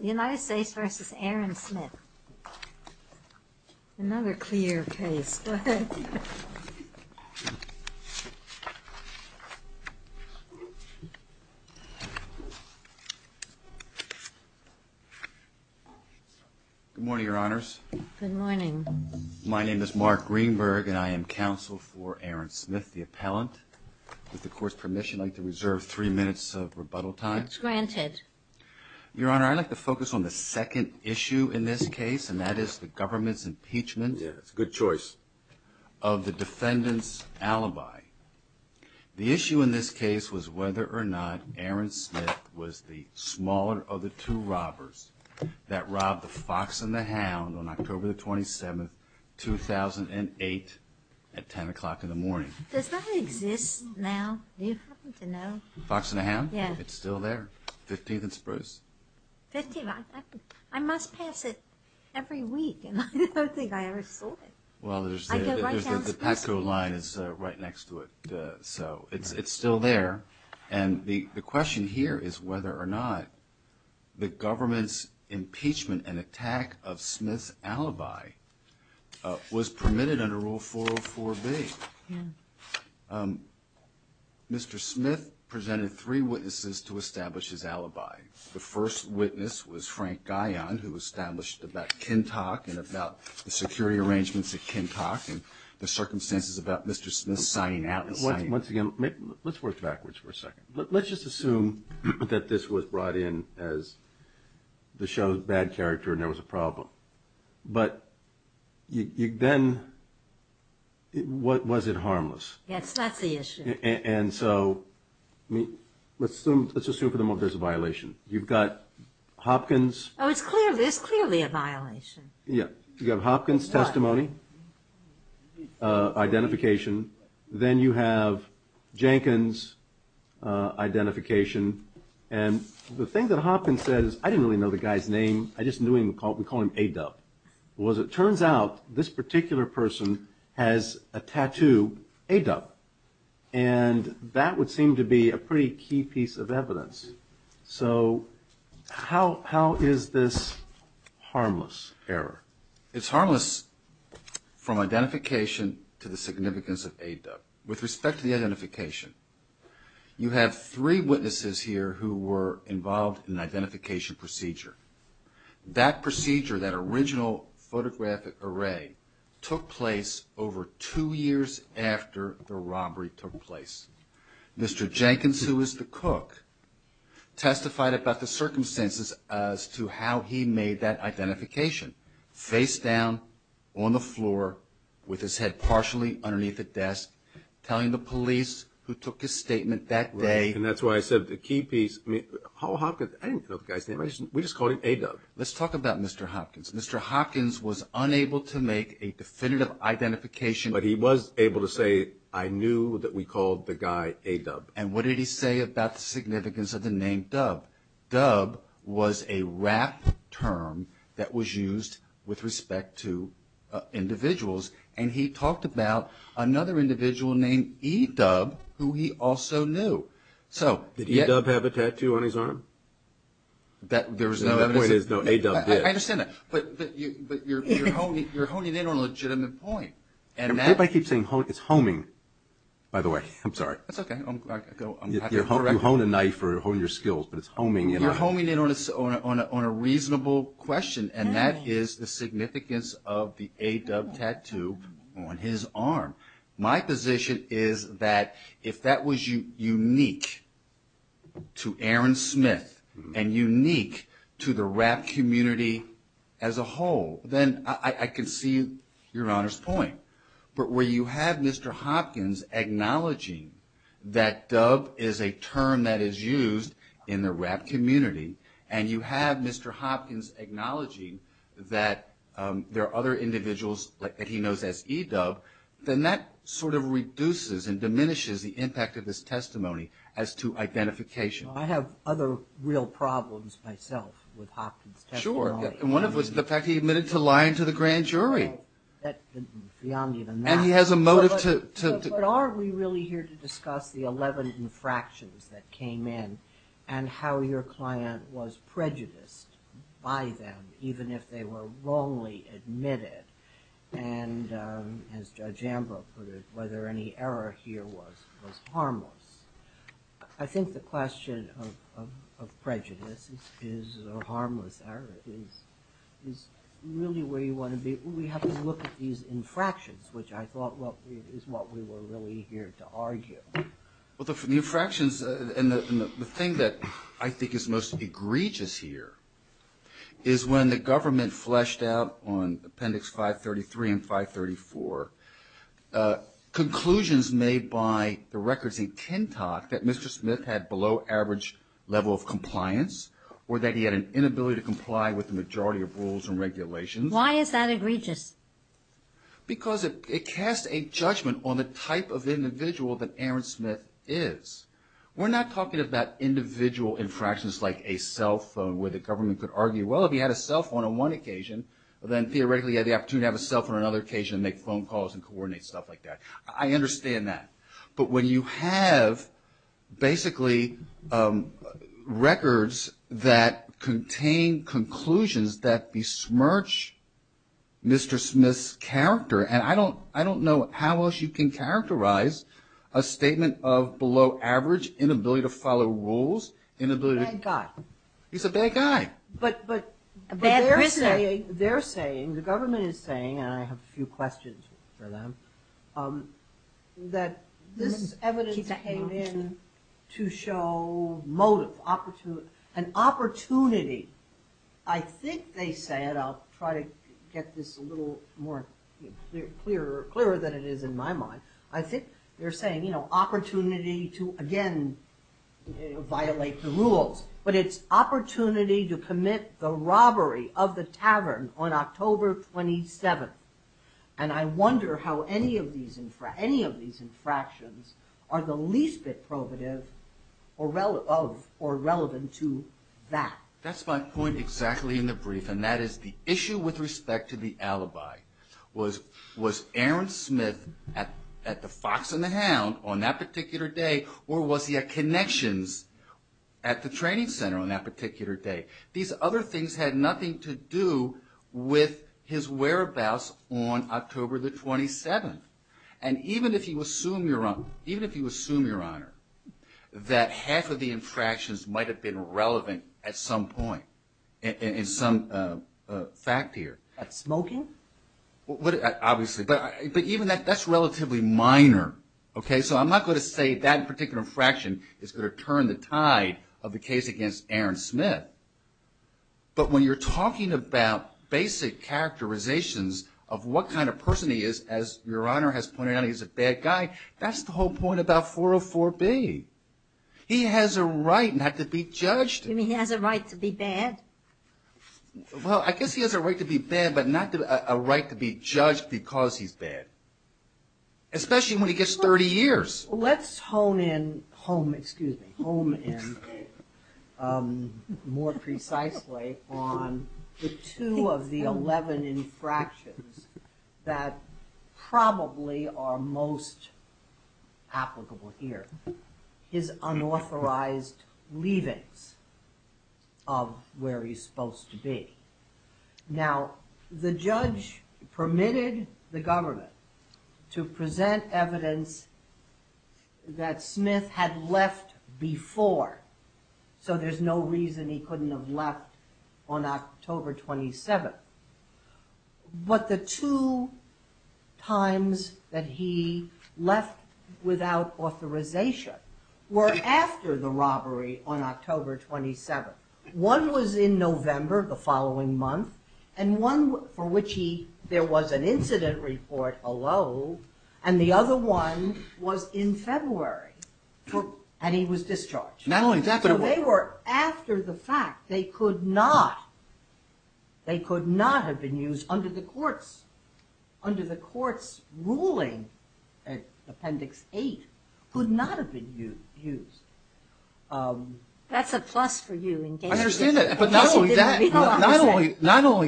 United States v. Aaron Smith Another clear case. Go ahead. Good morning, your honors. Good morning. My name is Mark Greenberg and I am counsel for Aaron Smith, the appellant. With the court's permission, I'd like to reserve three minutes of rebuttal time. That's granted. Your honor, I'd like to focus on the second issue in this case, and that is the government's impeachment. Yeah, that's a good choice. Of the defendant's alibi. The issue in this case was whether or not Aaron Smith was the smaller of the two robbers that robbed the Fox and the Hound on October the 27th, 2008 at 10 o'clock in the morning. Does that exist now? Do you happen to know? Fox and the Hound? It's still there. 15th and Spruce? 15th. I must pass it every week, and I don't think I ever sold it. Well, the Petco line is right next to it, so it's still there. And the question here is whether or not the government's impeachment and attack of Smith's alibi was permitted under Rule 404B. Mr. Smith presented three witnesses to establish his alibi. The first witness was Frank Guyon, who established about Kintock and about the security arrangements at Kintock and the circumstances about Mr. Smith signing out. Once again, let's work backwards for a second. Let's just assume that this was brought in as the show's bad character and there was a problem. But then was it harmless? Yes, that's the issue. And so let's assume for the moment there's a violation. You've got Hopkins. Oh, it's clearly a violation. Yeah. You have Hopkins' testimony, identification. Then you have Jenkins' identification. And the thing that Hopkins says, I didn't really know the guy's name. I just knew him. We call him A-dub. Well, as it turns out, this particular person has a tattoo, A-dub. And that would seem to be a pretty key piece of evidence. So how is this harmless error? It's harmless from identification to the significance of A-dub. With respect to the identification, you have three witnesses here who were involved in an identification procedure. That procedure, that original photographic array, took place over two years after the robbery took place. Mr. Jenkins, who is the cook, testified about the circumstances as to how he made that identification, face down on the floor with his head partially underneath the desk, telling the police who took his statement that day. And that's why I said the key piece. I didn't know the guy's name. We just called him A-dub. Let's talk about Mr. Hopkins. Mr. Hopkins was unable to make a definitive identification. But he was able to say, I knew that we called the guy A-dub. And what did he say about the significance of the name dub? Dub was a rap term that was used with respect to individuals. And he talked about another individual named E-dub, who he also knew. Did E-dub have a tattoo on his arm? That point is no. A-dub did. I understand that. But you're honing in on a legitimate point. Everybody keeps saying it's homing, by the way. I'm sorry. That's okay. I'm happy to correct you. You hone a knife or hone your skills, but it's homing. You're homing in on a reasonable question. And that is the significance of the A-dub tattoo on his arm. My position is that if that was unique to Aaron Smith, and unique to the rap community as a whole, then I can see your Honor's point. But where you have Mr. Hopkins acknowledging that dub is a term that is used in the rap community, and you have Mr. Hopkins acknowledging that there are other individuals that he knows as E-dub, then that sort of reduces and diminishes the impact of his testimony as to identification. I have other real problems myself with Hopkins' testimony. Sure. One of them is the fact that he admitted to lying to the grand jury. Beyond even that. And he has a motive to... But are we really here to discuss the 11 infractions that came in, and how your client was prejudiced by them, even if they were wrongly admitted? And as Judge Ambro put it, whether any error here was harmless. I think the question of prejudice is a harmless error. It's really where you want to be. We have to look at these infractions, which I thought is what we were really here to argue. Well, the infractions, and the thing that I think is most egregious here, is when the government fleshed out on Appendix 533 and 534, conclusions made by the records in Kintock that Mr. Smith had below average level of compliance, or that he had an inability to comply with the majority of rules and regulations. Why is that egregious? Because it casts a judgment on the type of individual that Aaron Smith is. We're not talking about individual infractions like a cell phone where the government could argue, well, if he had a cell phone on one occasion, then theoretically he had the opportunity to have a cell phone on another occasion and make phone calls and coordinate stuff like that. I understand that. But when you have basically records that contain conclusions that besmirch Mr. Smith's character, and I don't know how else you can characterize a statement of below average inability to follow rules. Bad guy. He's a bad guy. But they're saying, the government is saying, and I have a few questions for them, that this evidence came in to show motive, an opportunity. I think they say, and I'll try to get this a little more clearer than it is in my mind, I think they're saying, you know, opportunity to, again, violate the rules. But it's opportunity to commit the robbery of the tavern on October 27th. And I wonder how any of these infractions are the least bit probative or relevant to that. That's my point exactly in the brief, and that is the issue with respect to the alibi. Was Aaron Smith at the Fox and the Hound on that particular day, or was he at Connections at the training center on that particular day? These other things had nothing to do with his whereabouts on October the 27th. And even if you assume, Your Honor, that half of the infractions might have been relevant at some point, in some fact here. At smoking? Obviously. But even that's relatively minor. Okay, so I'm not going to say that particular infraction is going to turn the tide of the case against Aaron Smith. But when you're talking about basic characterizations of what kind of person he is, as Your Honor has pointed out, he's a bad guy, that's the whole point about 404B. He has a right not to be judged. You mean he has a right to be bad? Well, I guess he has a right to be bad, but not a right to be judged because he's bad. Especially when he gets 30 years. Let's hone in more precisely on the two of the 11 infractions that probably are most applicable here. His unauthorized leavings of where he's supposed to be. Now, the judge permitted the government to present evidence that Smith had left before. So there's no reason he couldn't have left on October 27th. But the two times that he left without authorization were after the robbery on October 27th. One was in November, the following month, and one for which there was an incident report alone, and the other one was in February, and he was discharged. So they were after the fact. They could not have been used under the court's ruling, Appendix 8, could not have been used. That's a plus for you. I understand that, but not only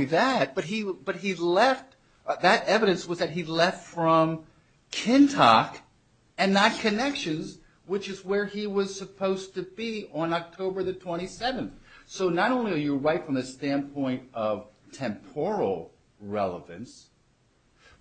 that, but that evidence was that he left from Kintock and not Connections, which is where he was supposed to be on October the 27th. So not only are you right from the standpoint of temporal relevance,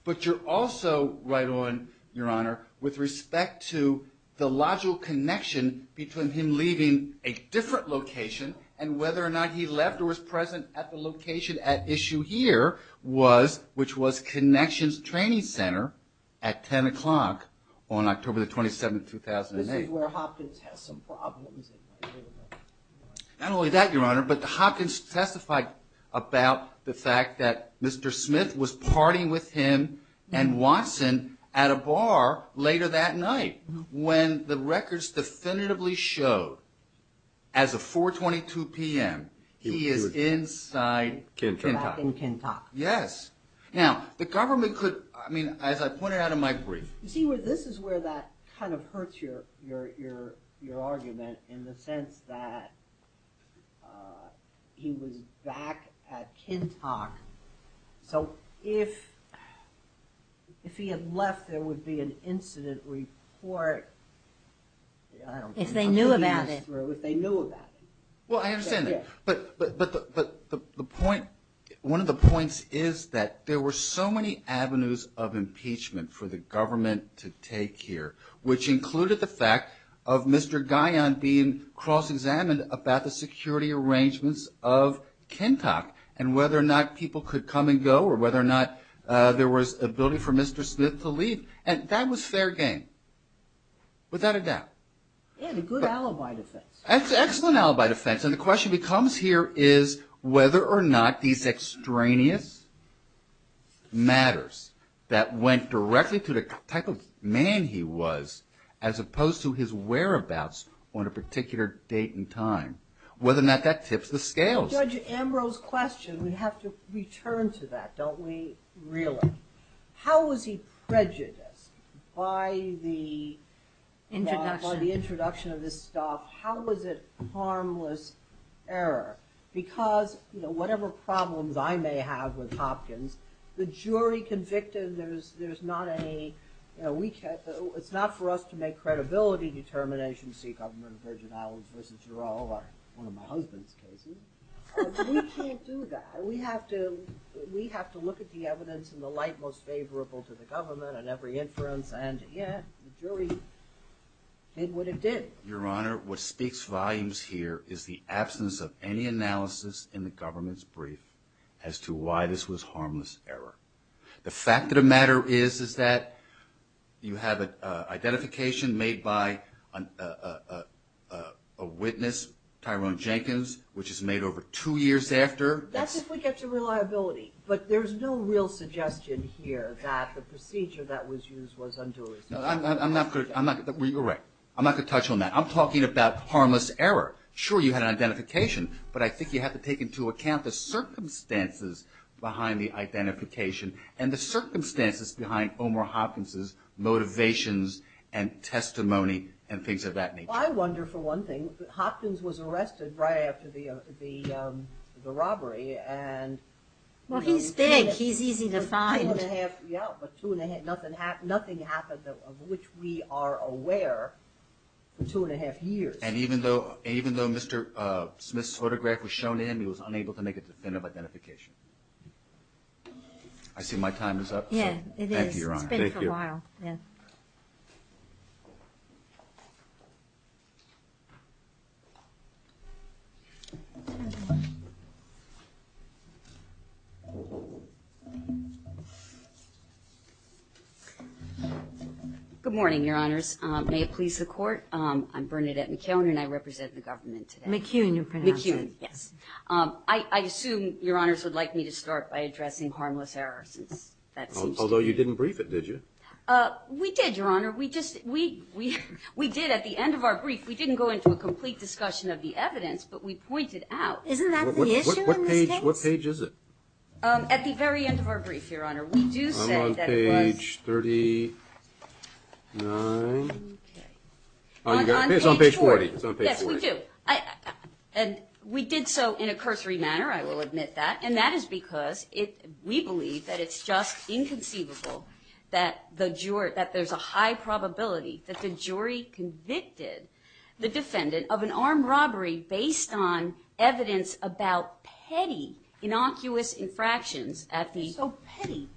but you're also right on, Your Honor, with respect to the logical connection between him leaving a different location and whether or not he left or was present at the location at issue here, which was Connections Training Center at 10 o'clock on October the 27th, 2008. This is where Hopkins has some problems. Not only that, Your Honor, but Hopkins testified about the fact that Mr. Smith was partying with him and Watson at a bar later that night when the records definitively showed as of 4.22 p.m. he is inside Kintock. Back in Kintock. Yes. Now, the government could, I mean, as I pointed out in my brief. You see, this is where that kind of hurts your argument in the sense that he was back at Kintock. So if he had left, there would be an incident report. If they knew about it. If they knew about it. Well, I understand that, but one of the points is that there were so many avenues of impeachment for the government to take here, which included the fact of Mr. Guyon being cross-examined about the security arrangements of Kintock and whether or not people could come and go or whether or not there was ability for Mr. Smith to leave. And that was fair game. Without a doubt. And a good alibi defense. Excellent alibi defense. And the question becomes here is whether or not these extraneous matters that went directly to the type of man he was as opposed to his whereabouts on a particular date and time, whether or not that tips the scales. Judge Ambrose's question, we have to return to that, don't we? Really. How was he prejudiced by the introduction of this stuff? How was it harmless error? Because, you know, whatever problems I may have with Hopkins, the jury convicted, there's not any, you know, it's not for us to make credibility determinations. See, Governor of Virgin Islands v. Giroir, one of my husband's cases. We can't do that. We have to look at the evidence in the light most favorable to the government and every inference. And, yeah, the jury did what it did. Your Honor, what speaks volumes here is the absence of any analysis in the government's brief as to why this was harmless error. The fact of the matter is is that you have an identification made by a witness, Tyrone Jenkins, which is made over two years after. That's if we get to reliability. But there's no real suggestion here that the procedure that was used was undue. You're right. I'm not going to touch on that. I'm talking about harmless error. Sure, you had an identification, but I think you have to take into account the circumstances behind the identification and the circumstances behind Omer Hopkins' motivations and testimony and things of that nature. I wonder, for one thing, Hopkins was arrested right after the robbery. Well, he's big. He's easy to find. Yeah, but nothing happened of which we are aware for two and a half years. And even though Mr. Smith's photograph was shown to him, he was unable to make a definitive identification. I see my time is up. Yeah, it is. Thank you, Your Honor. It's been a while. Good morning, Your Honors. May it please the Court? I'm Bernadette McKeown, and I represent the government today. McKeown, you pronounce it. McKeown, yes. I assume Your Honors would like me to start by addressing harmless error since that seems to be the case. Although you didn't brief it, did you? We did, Your Honor. We did at the end of our brief. We didn't go into a complete discussion of the evidence, but we pointed out. Isn't that the issue in this case? What page is it? At the very end of our brief, Your Honor. I'm on page 39. It's on page 40. Yes, we do. And we did so in a cursory manner, I will admit that. And that is because we believe that it's just inconceivable that there's a high probability that the jury convicted the defendant of an armed robbery based on evidence about petty, innocuous infractions. It's so petty.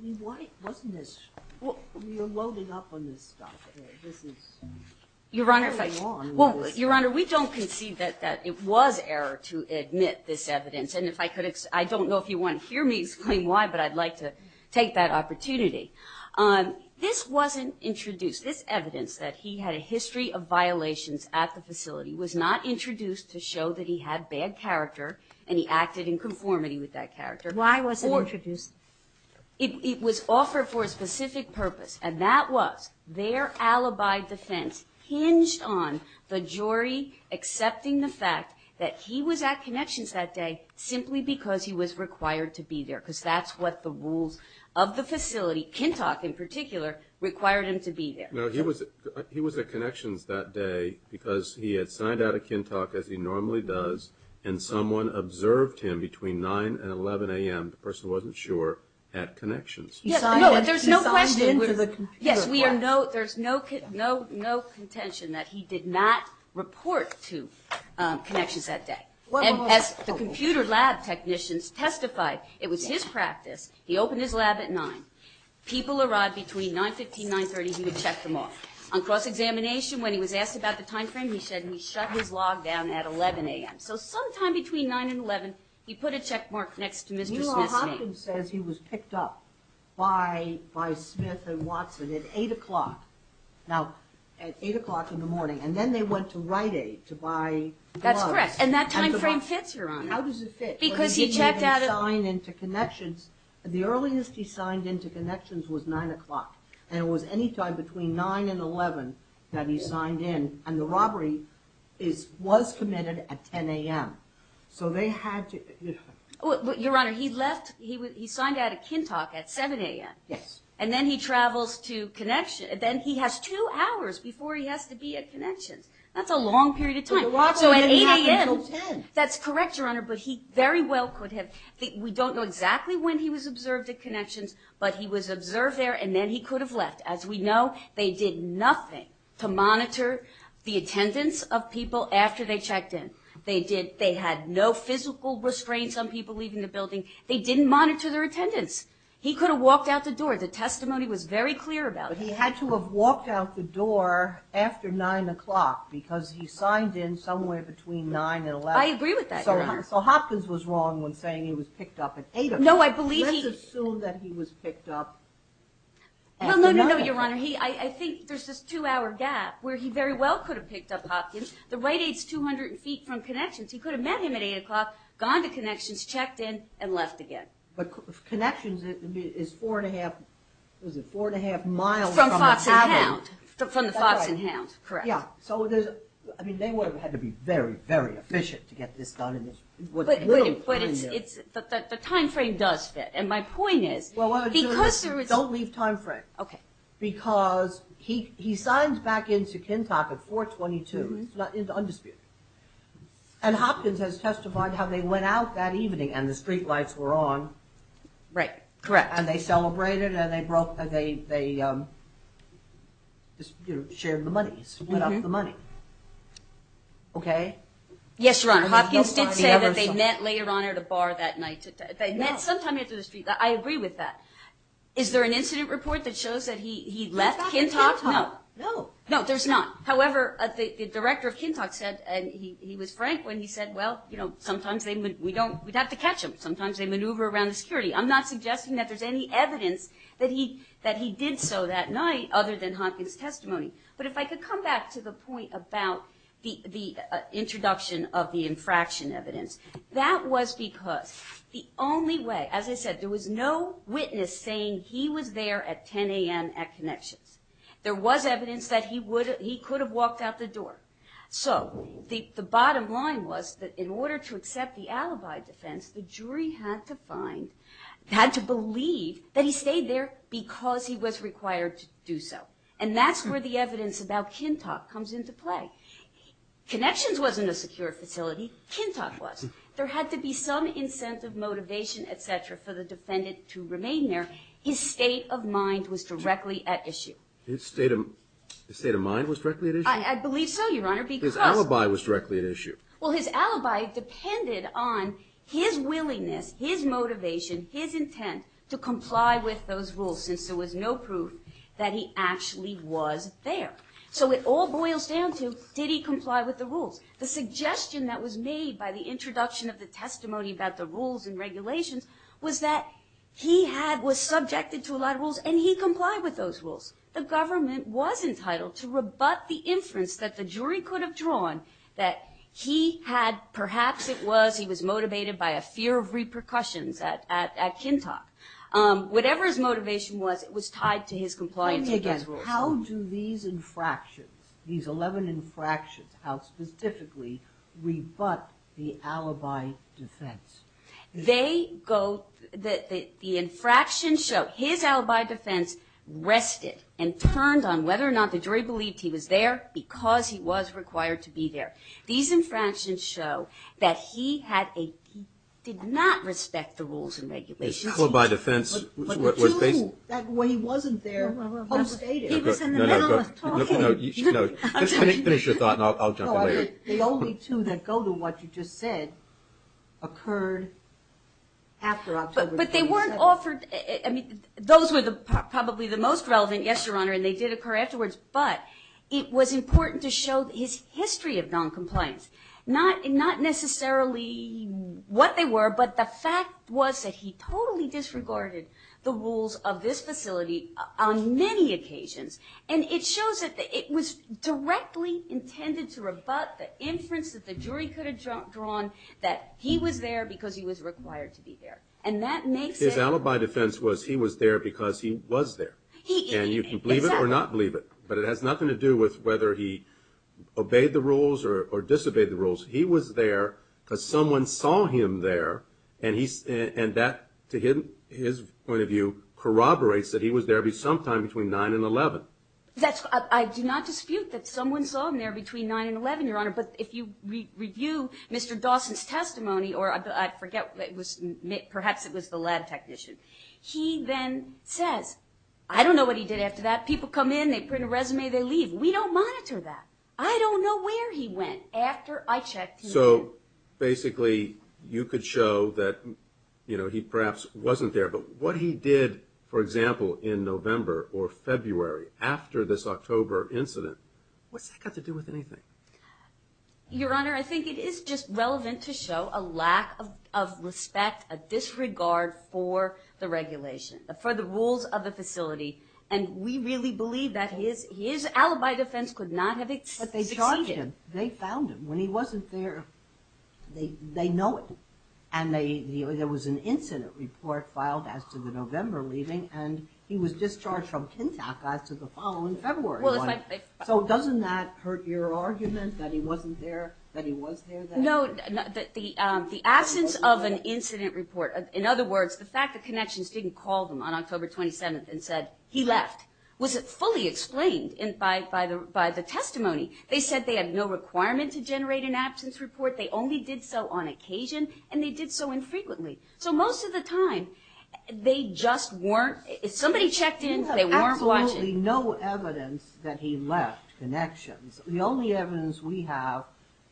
I mean, why? Wasn't this? You're loading up on this stuff here. This is early on. Your Honor, we don't concede that it was error to admit this evidence. And I don't know if you want to hear me explain why, but I'd like to take that opportunity. This wasn't introduced. This evidence that he had a history of violations at the facility was not introduced to show that he had bad character and he acted in conformity with that character. Why wasn't it introduced? It was offered for a specific purpose, and that was their alibi defense hinged on the jury accepting the fact that he was at Connections that day simply because he was required to be there, because that's what the rules of the facility, Kintock in particular, required him to be there. No, he was at Connections that day because he had signed out of Kintock, as he normally does, and someone observed him between 9 and 11 a.m., the person wasn't sure, at Connections. No, there's no question. Yes, there's no contention that he did not report to Connections that day. As the computer lab technicians testified, it was his practice, he opened his lab at 9, people arrived between 9.15, 9.30, he would check them off. On cross-examination, when he was asked about the time frame, he said he shut his log down at 11 a.m. So sometime between 9 and 11, he put a checkmark next to Mr. Smith's name. You know, Hopkins says he was picked up by Smith and Watson at 8 o'clock. Now, at 8 o'clock in the morning, and then they went to Rite Aid to buy gloves. That's correct, and that time frame fits, Your Honor. How does it fit? Because he checked out of... He didn't even sign into Connections. The earliest he signed into Connections was 9 o'clock, and it was any time between 9 and 11 that he signed in, and the robbery was committed at 10 a.m. So they had to... Your Honor, he left, he signed out of Kintock at 7 a.m., and then he travels to Connections. Then he has two hours before he has to be at Connections. That's a long period of time. So at 8 a.m., that's correct, Your Honor, but he very well could have... We don't know exactly when he was observed at Connections, but he was observed there, and then he could have left. As we know, they did nothing to monitor the attendance of people after they checked in. They had no physical restraints on people leaving the building. They didn't monitor their attendance. He could have walked out the door. The testimony was very clear about it. But he had to have walked out the door after 9 o'clock because he signed in somewhere between 9 and 11. I agree with that, Your Honor. So Hopkins was wrong when saying he was picked up at 8 o'clock. No, I believe he... Well, no, no, no, Your Honor. I think there's this two-hour gap where he very well could have picked up Hopkins. The right aid is 200 feet from Connections. He could have met him at 8 o'clock, gone to Connections, checked in, and left again. But Connections is 4 1⁄2 miles... From Fox and Hound. From the Fox and Hound, correct. Yeah. I mean, they would have had to be very, very efficient to get this done. But the time frame does fit, and my point is... Because there was... Don't leave time frame. Okay. Because he signs back into Kintock at 422. It's undisputed. And Hopkins has testified how they went out that evening and the streetlights were on. Right. Correct. And they celebrated, and they shared the money, split up the money. Okay? Yes, Your Honor. Hopkins did say that they met later on at a bar that night. I agree with that. Is there an incident report that shows that he left Kintock? No. No. No, there's not. However, the director of Kintock said, and he was frank when he said, well, you know, sometimes we'd have to catch them. Sometimes they maneuver around the security. I'm not suggesting that there's any evidence that he did so that night other than Hopkins' testimony. But if I could come back to the point about the introduction of the infraction evidence, that was because the only way, as I said, there was no witness saying he was there at 10 a.m. at Connections. There was evidence that he could have walked out the door. So the bottom line was that in order to accept the alibi defense, the jury had to believe that he stayed there because he was required to do so. And that's where the evidence about Kintock comes into play. Connections wasn't a secure facility. Kintock was. There had to be some incentive, motivation, et cetera, for the defendant to remain there. His state of mind was directly at issue. His state of mind was directly at issue? I believe so, Your Honor. His alibi was directly at issue. Well, his alibi depended on his willingness, his motivation, his intent to comply with those rules since there was no proof that he actually was there. So it all boils down to did he comply with the rules? The suggestion that was made by the introduction of the testimony about the rules and regulations was that he was subjected to a lot of rules and he complied with those rules. The government was entitled to rebut the inference that the jury could have drawn that he had, perhaps it was he was motivated by a fear of repercussions at Kintock. Whatever his motivation was, it was tied to his compliance with those rules. So how do these infractions, these 11 infractions, how specifically rebut the alibi defense? They go, the infractions show his alibi defense rested and turned on whether or not the jury believed he was there because he was required to be there. These infractions show that he did not respect the rules and regulations. His alibi defense was based? No, he wasn't there. He was in the middle of a talk. Finish your thought and I'll jump in later. The only two that go to what you just said occurred after October 22nd. But they weren't offered, I mean, those were probably the most relevant, yes, Your Honor, and they did occur afterwards. But it was important to show his history of noncompliance, not necessarily what they were, but the fact was that he totally disregarded the rules of this facility on many occasions. And it shows that it was directly intended to rebut the inference that the jury could have drawn that he was there because he was required to be there. And that makes it? His alibi defense was he was there because he was there. And you can believe it or not believe it, but it has nothing to do with whether he obeyed the rules or disobeyed the rules. He was there because someone saw him there. And that, to his point of view, corroborates that he was there sometime between 9 and 11. I do not dispute that someone saw him there between 9 and 11, Your Honor. But if you review Mr. Dawson's testimony, or I forget, perhaps it was the lab technician, he then says, I don't know what he did after that. People come in, they print a resume, they leave. We don't monitor that. I don't know where he went after I checked. So basically you could show that he perhaps wasn't there. But what he did, for example, in November or February after this October incident, what's that got to do with anything? Your Honor, I think it is just relevant to show a lack of respect, a disregard for the regulation, for the rules of the facility. And we really believe that his alibi defense could not have succeeded. But they charge him. They found him. When he wasn't there, they know it. And there was an incident report filed as to the November leaving, and he was discharged from Kintac as to the following February. So doesn't that hurt your argument that he wasn't there, that he was there that day? No. The absence of an incident report, in other words, the fact that Connections didn't call them on October 27th and said he left, was fully explained by the testimony. They said they had no requirement to generate an absence report. They only did so on occasion, and they did so infrequently. So most of the time they just weren't – somebody checked in, they weren't watching. We have absolutely no evidence that he left Connections. The only evidence we have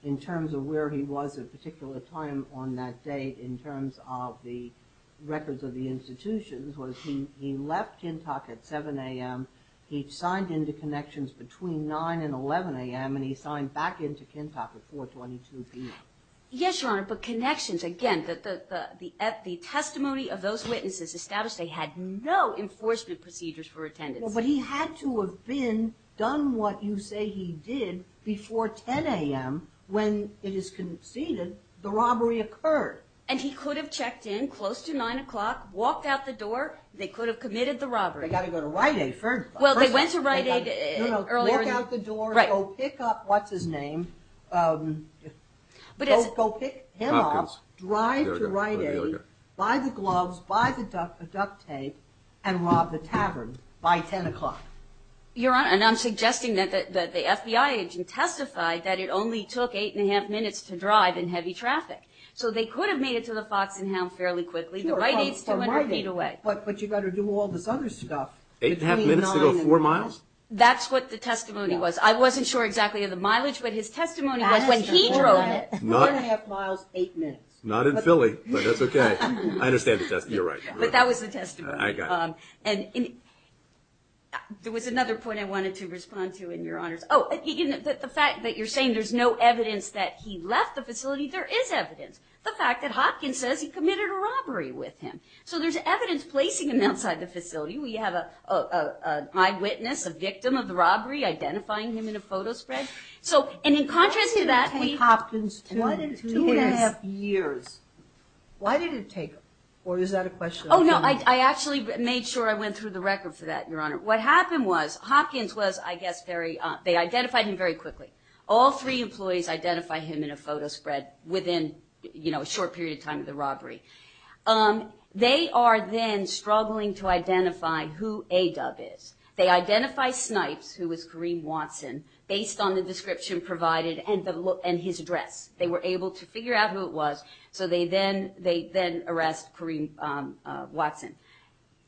in terms of where he was at a particular time on that date, in terms of the records of the institutions, was he left Kintac at 7 a.m., he signed into Connections between 9 and 11 a.m., and he signed back into Kintac at 4.22 p.m. Yes, Your Honor, but Connections, again, the testimony of those witnesses established they had no enforcement procedures for attendance. But he had to have been done what you say he did before 10 a.m. When it is conceded, the robbery occurred. And he could have checked in close to 9 o'clock, walked out the door. They could have committed the robbery. They got to go to Rite Aid first. Well, they went to Rite Aid earlier. No, no, walk out the door, go pick up – what's his name? Go pick him up, drive to Rite Aid, buy the gloves, buy the duct tape, and rob the tavern by 10 o'clock. Your Honor, and I'm suggesting that the FBI agent testified that it only took eight and a half minutes to drive in heavy traffic. So they could have made it to the Fox and Hound fairly quickly. The Rite Aid is 200 feet away. But you've got to do all this other stuff. Eight and a half minutes to go four miles? That's what the testimony was. I wasn't sure exactly of the mileage, but his testimony was when he drove it. Four and a half miles, eight minutes. Not in Philly, but that's okay. I understand the testimony. You're right. But that was the testimony. I got it. And there was another point I wanted to respond to in your honors. Oh, the fact that you're saying there's no evidence that he left the facility, there is evidence. The fact that Hopkins says he committed a robbery with him. So there's evidence placing him outside the facility. We have an eyewitness, a victim of the robbery, identifying him in a photo spread. And in contrast to that, we – Why did it take Hopkins two and a half years? Why did it take – or is that a question? Oh, no, I actually made sure I went through the record for that, Your Honor. What happened was Hopkins was, I guess, very – they identified him very quickly. All three employees identify him in a photo spread within a short period of time of the robbery. They are then struggling to identify who A-Dub is. They identify Snipes, who was Kareem Watson, based on the description provided and his address. They were able to figure out who it was, so they then arrest Kareem Watson.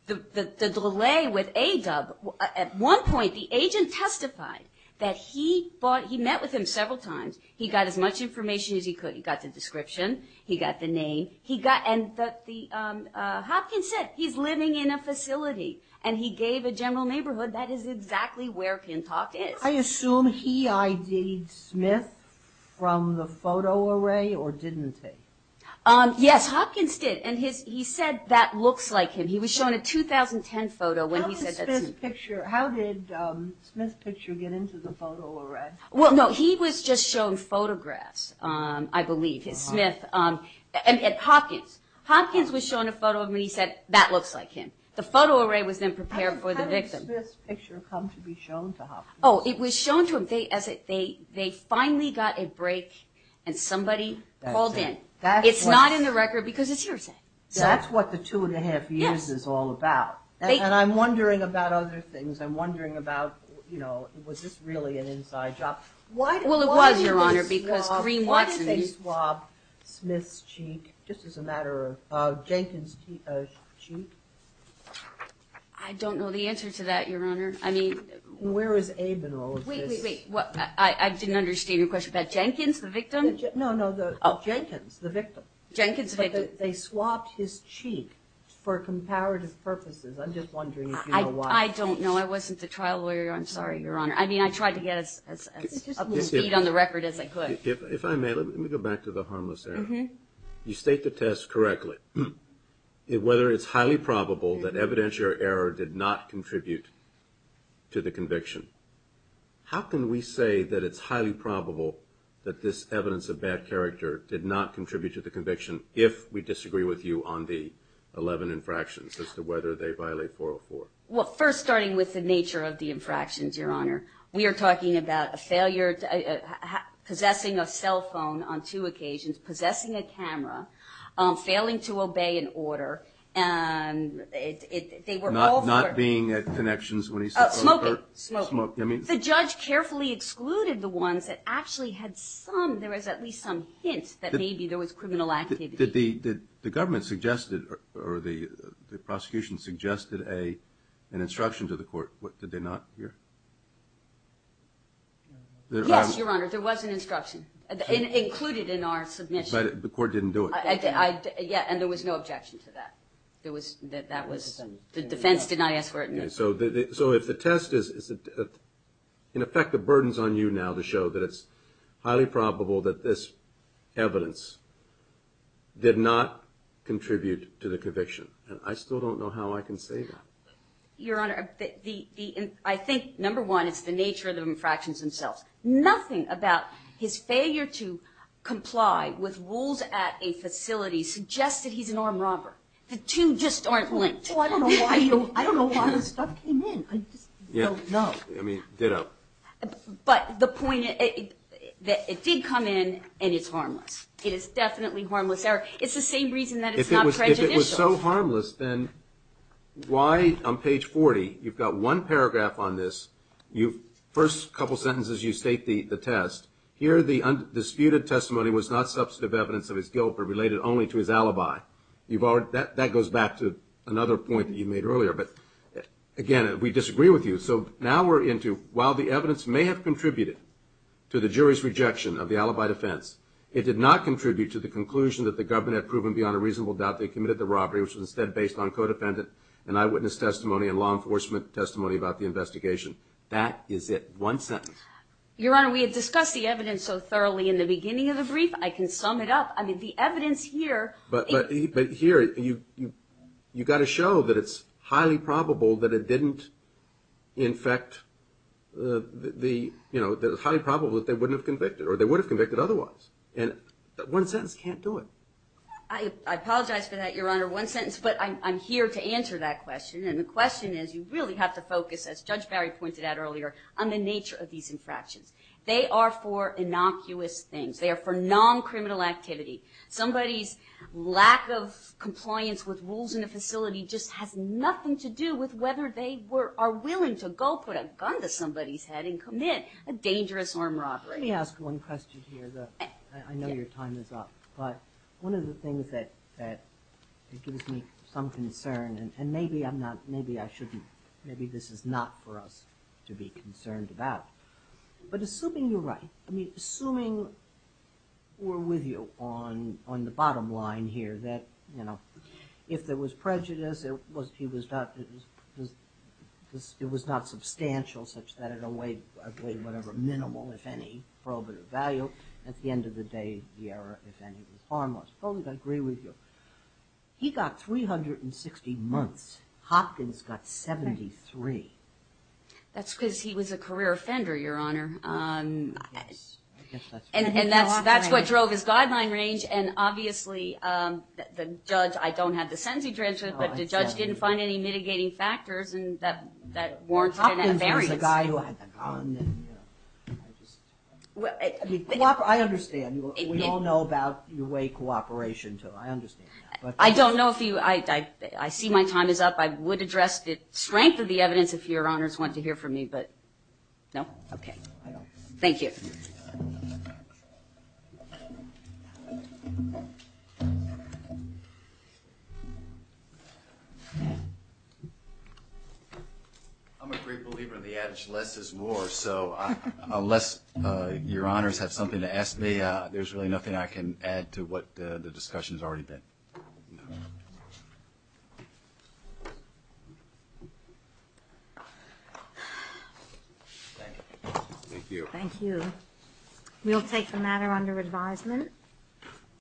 The delay with A-Dub – at one point, the agent testified that he met with him several times. He got as much information as he could. He got the description. He got the name. He got – and Hopkins said he's living in a facility, and he gave a general neighborhood. That is exactly where Kintalk is. I assume he ID'd Smith from the photo array, or didn't he? Yes, Hopkins did, and he said that looks like him. He was shown a 2010 photo when he said that's him. How did Smith's picture get into the photo array? Well, no, he was just shown photographs, I believe. Hopkins was shown a photo of him, and he said that looks like him. The photo array was then prepared for the victim. How did Smith's picture come to be shown to Hopkins? Oh, it was shown to them as they finally got a break, and somebody called in. It's not in the record because it's yours. That's what the two-and-a-half years is all about. And I'm wondering about other things. I'm wondering about, you know, was this really an inside job? Well, it was, Your Honor, because Kareem Watson – Why did they swab Smith's cheek, just as a matter of – Jenkins' cheek? I don't know the answer to that, Your Honor. I mean – Where is Abe in all of this? Wait, wait, wait. I didn't understand your question about Jenkins, the victim? No, no, Jenkins, the victim. Jenkins, the victim. But they swabbed his cheek for comparative purposes. I'm just wondering if you know why. I don't know. I wasn't the trial lawyer. I'm sorry, Your Honor. I mean, I tried to get as speed on the record as I could. If I may, let me go back to the harmless error. You state the test correctly. Whether it's highly probable that evidence or error did not contribute to the conviction. How can we say that it's highly probable that this evidence of bad character did not contribute to the conviction if we disagree with you on the 11 infractions as to whether they violate 404? Well, first, starting with the nature of the infractions, Your Honor. We are talking about a failure – possessing a cell phone on two occasions, possessing a camera, failing to obey an order, and they were all – Not being at connections when he said – Smoking. Smoking. The judge carefully excluded the ones that actually had some – there was at least some hint that maybe there was criminal activity. Did the government suggest or the prosecution suggested an instruction to the court? Did they not here? Yes, Your Honor. There was an instruction included in our submission. But the court didn't do it. Yeah, and there was no objection to that. That was – the defense did not ask for it. So if the test is – in effect, the burden is on you now to show that it's highly probable that this evidence did not contribute to the conviction. I still don't know how I can say that. Your Honor, I think, number one, it's the nature of the infractions themselves. Nothing about his failure to comply with rules at a facility suggests that he's an armed robber. The two just aren't linked. I don't know why this stuff came in. I just don't know. I mean, ditto. But the point – it did come in, and it's harmless. It is definitely harmless. It's the same reason that it's not prejudicial. If it was so harmless, then why, on page 40, you've got one paragraph on this. First couple sentences, you state the test. Here, the undisputed testimony was not substantive evidence of his guilt but related only to his alibi. That goes back to another point that you made earlier. But, again, we disagree with you. So now we're into, while the evidence may have contributed to the jury's rejection of the alibi defense, it did not contribute to the conclusion that the government had proven beyond a reasonable doubt they committed the robbery, which was instead based on codependent and eyewitness testimony and law enforcement testimony about the investigation. That is it. One sentence. Your Honor, we had discussed the evidence so thoroughly in the beginning of the brief. I can sum it up. I mean, the evidence here – But here, you've got to show that it's highly probable that it didn't infect the – you know, that it's highly probable that they wouldn't have convicted or they would have convicted otherwise. And one sentence can't do it. I apologize for that, Your Honor. One sentence. But I'm here to answer that question. And the question is you really have to focus, as Judge Barry pointed out earlier, on the nature of these infractions. They are for innocuous things. They are for non-criminal activity. Somebody's lack of compliance with rules in a facility just has nothing to do with whether they are willing to go put a gun to somebody's head and commit a dangerous armed robbery. Let me ask one question here. I know your time is up. But one of the things that gives me some concern – and maybe I'm not – maybe I shouldn't – maybe this is not for us to be concerned about. But assuming you're right, I mean, assuming we're with you on the bottom line here that, you know, if there was prejudice, it was not substantial such that it weighed whatever minimal, if any, probative value. At the end of the day, the error, if any, was harmless. I totally agree with you. He got 360 months. Hopkins got 73. That's because he was a career offender, Your Honor. Yes, I guess that's right. And that's what drove his guideline range. And obviously, the judge – I don't have the sentencing transcript, but the judge didn't find any mitigating factors, and that warranted it at various. Hopkins was the guy who had the gun. I mean, I understand. We all know about your way of cooperation. I understand that. I don't know if you – I see my time is up. I would address the strength of the evidence if Your Honors want to hear from me, but no? Okay. Thank you. Thank you. I'm a great believer in the adage, less is more. So unless Your Honors have something to ask me, there's really nothing I can add to what the discussion has already been. Thank you. Thank you. Thank you. We'll take the matter under advisement.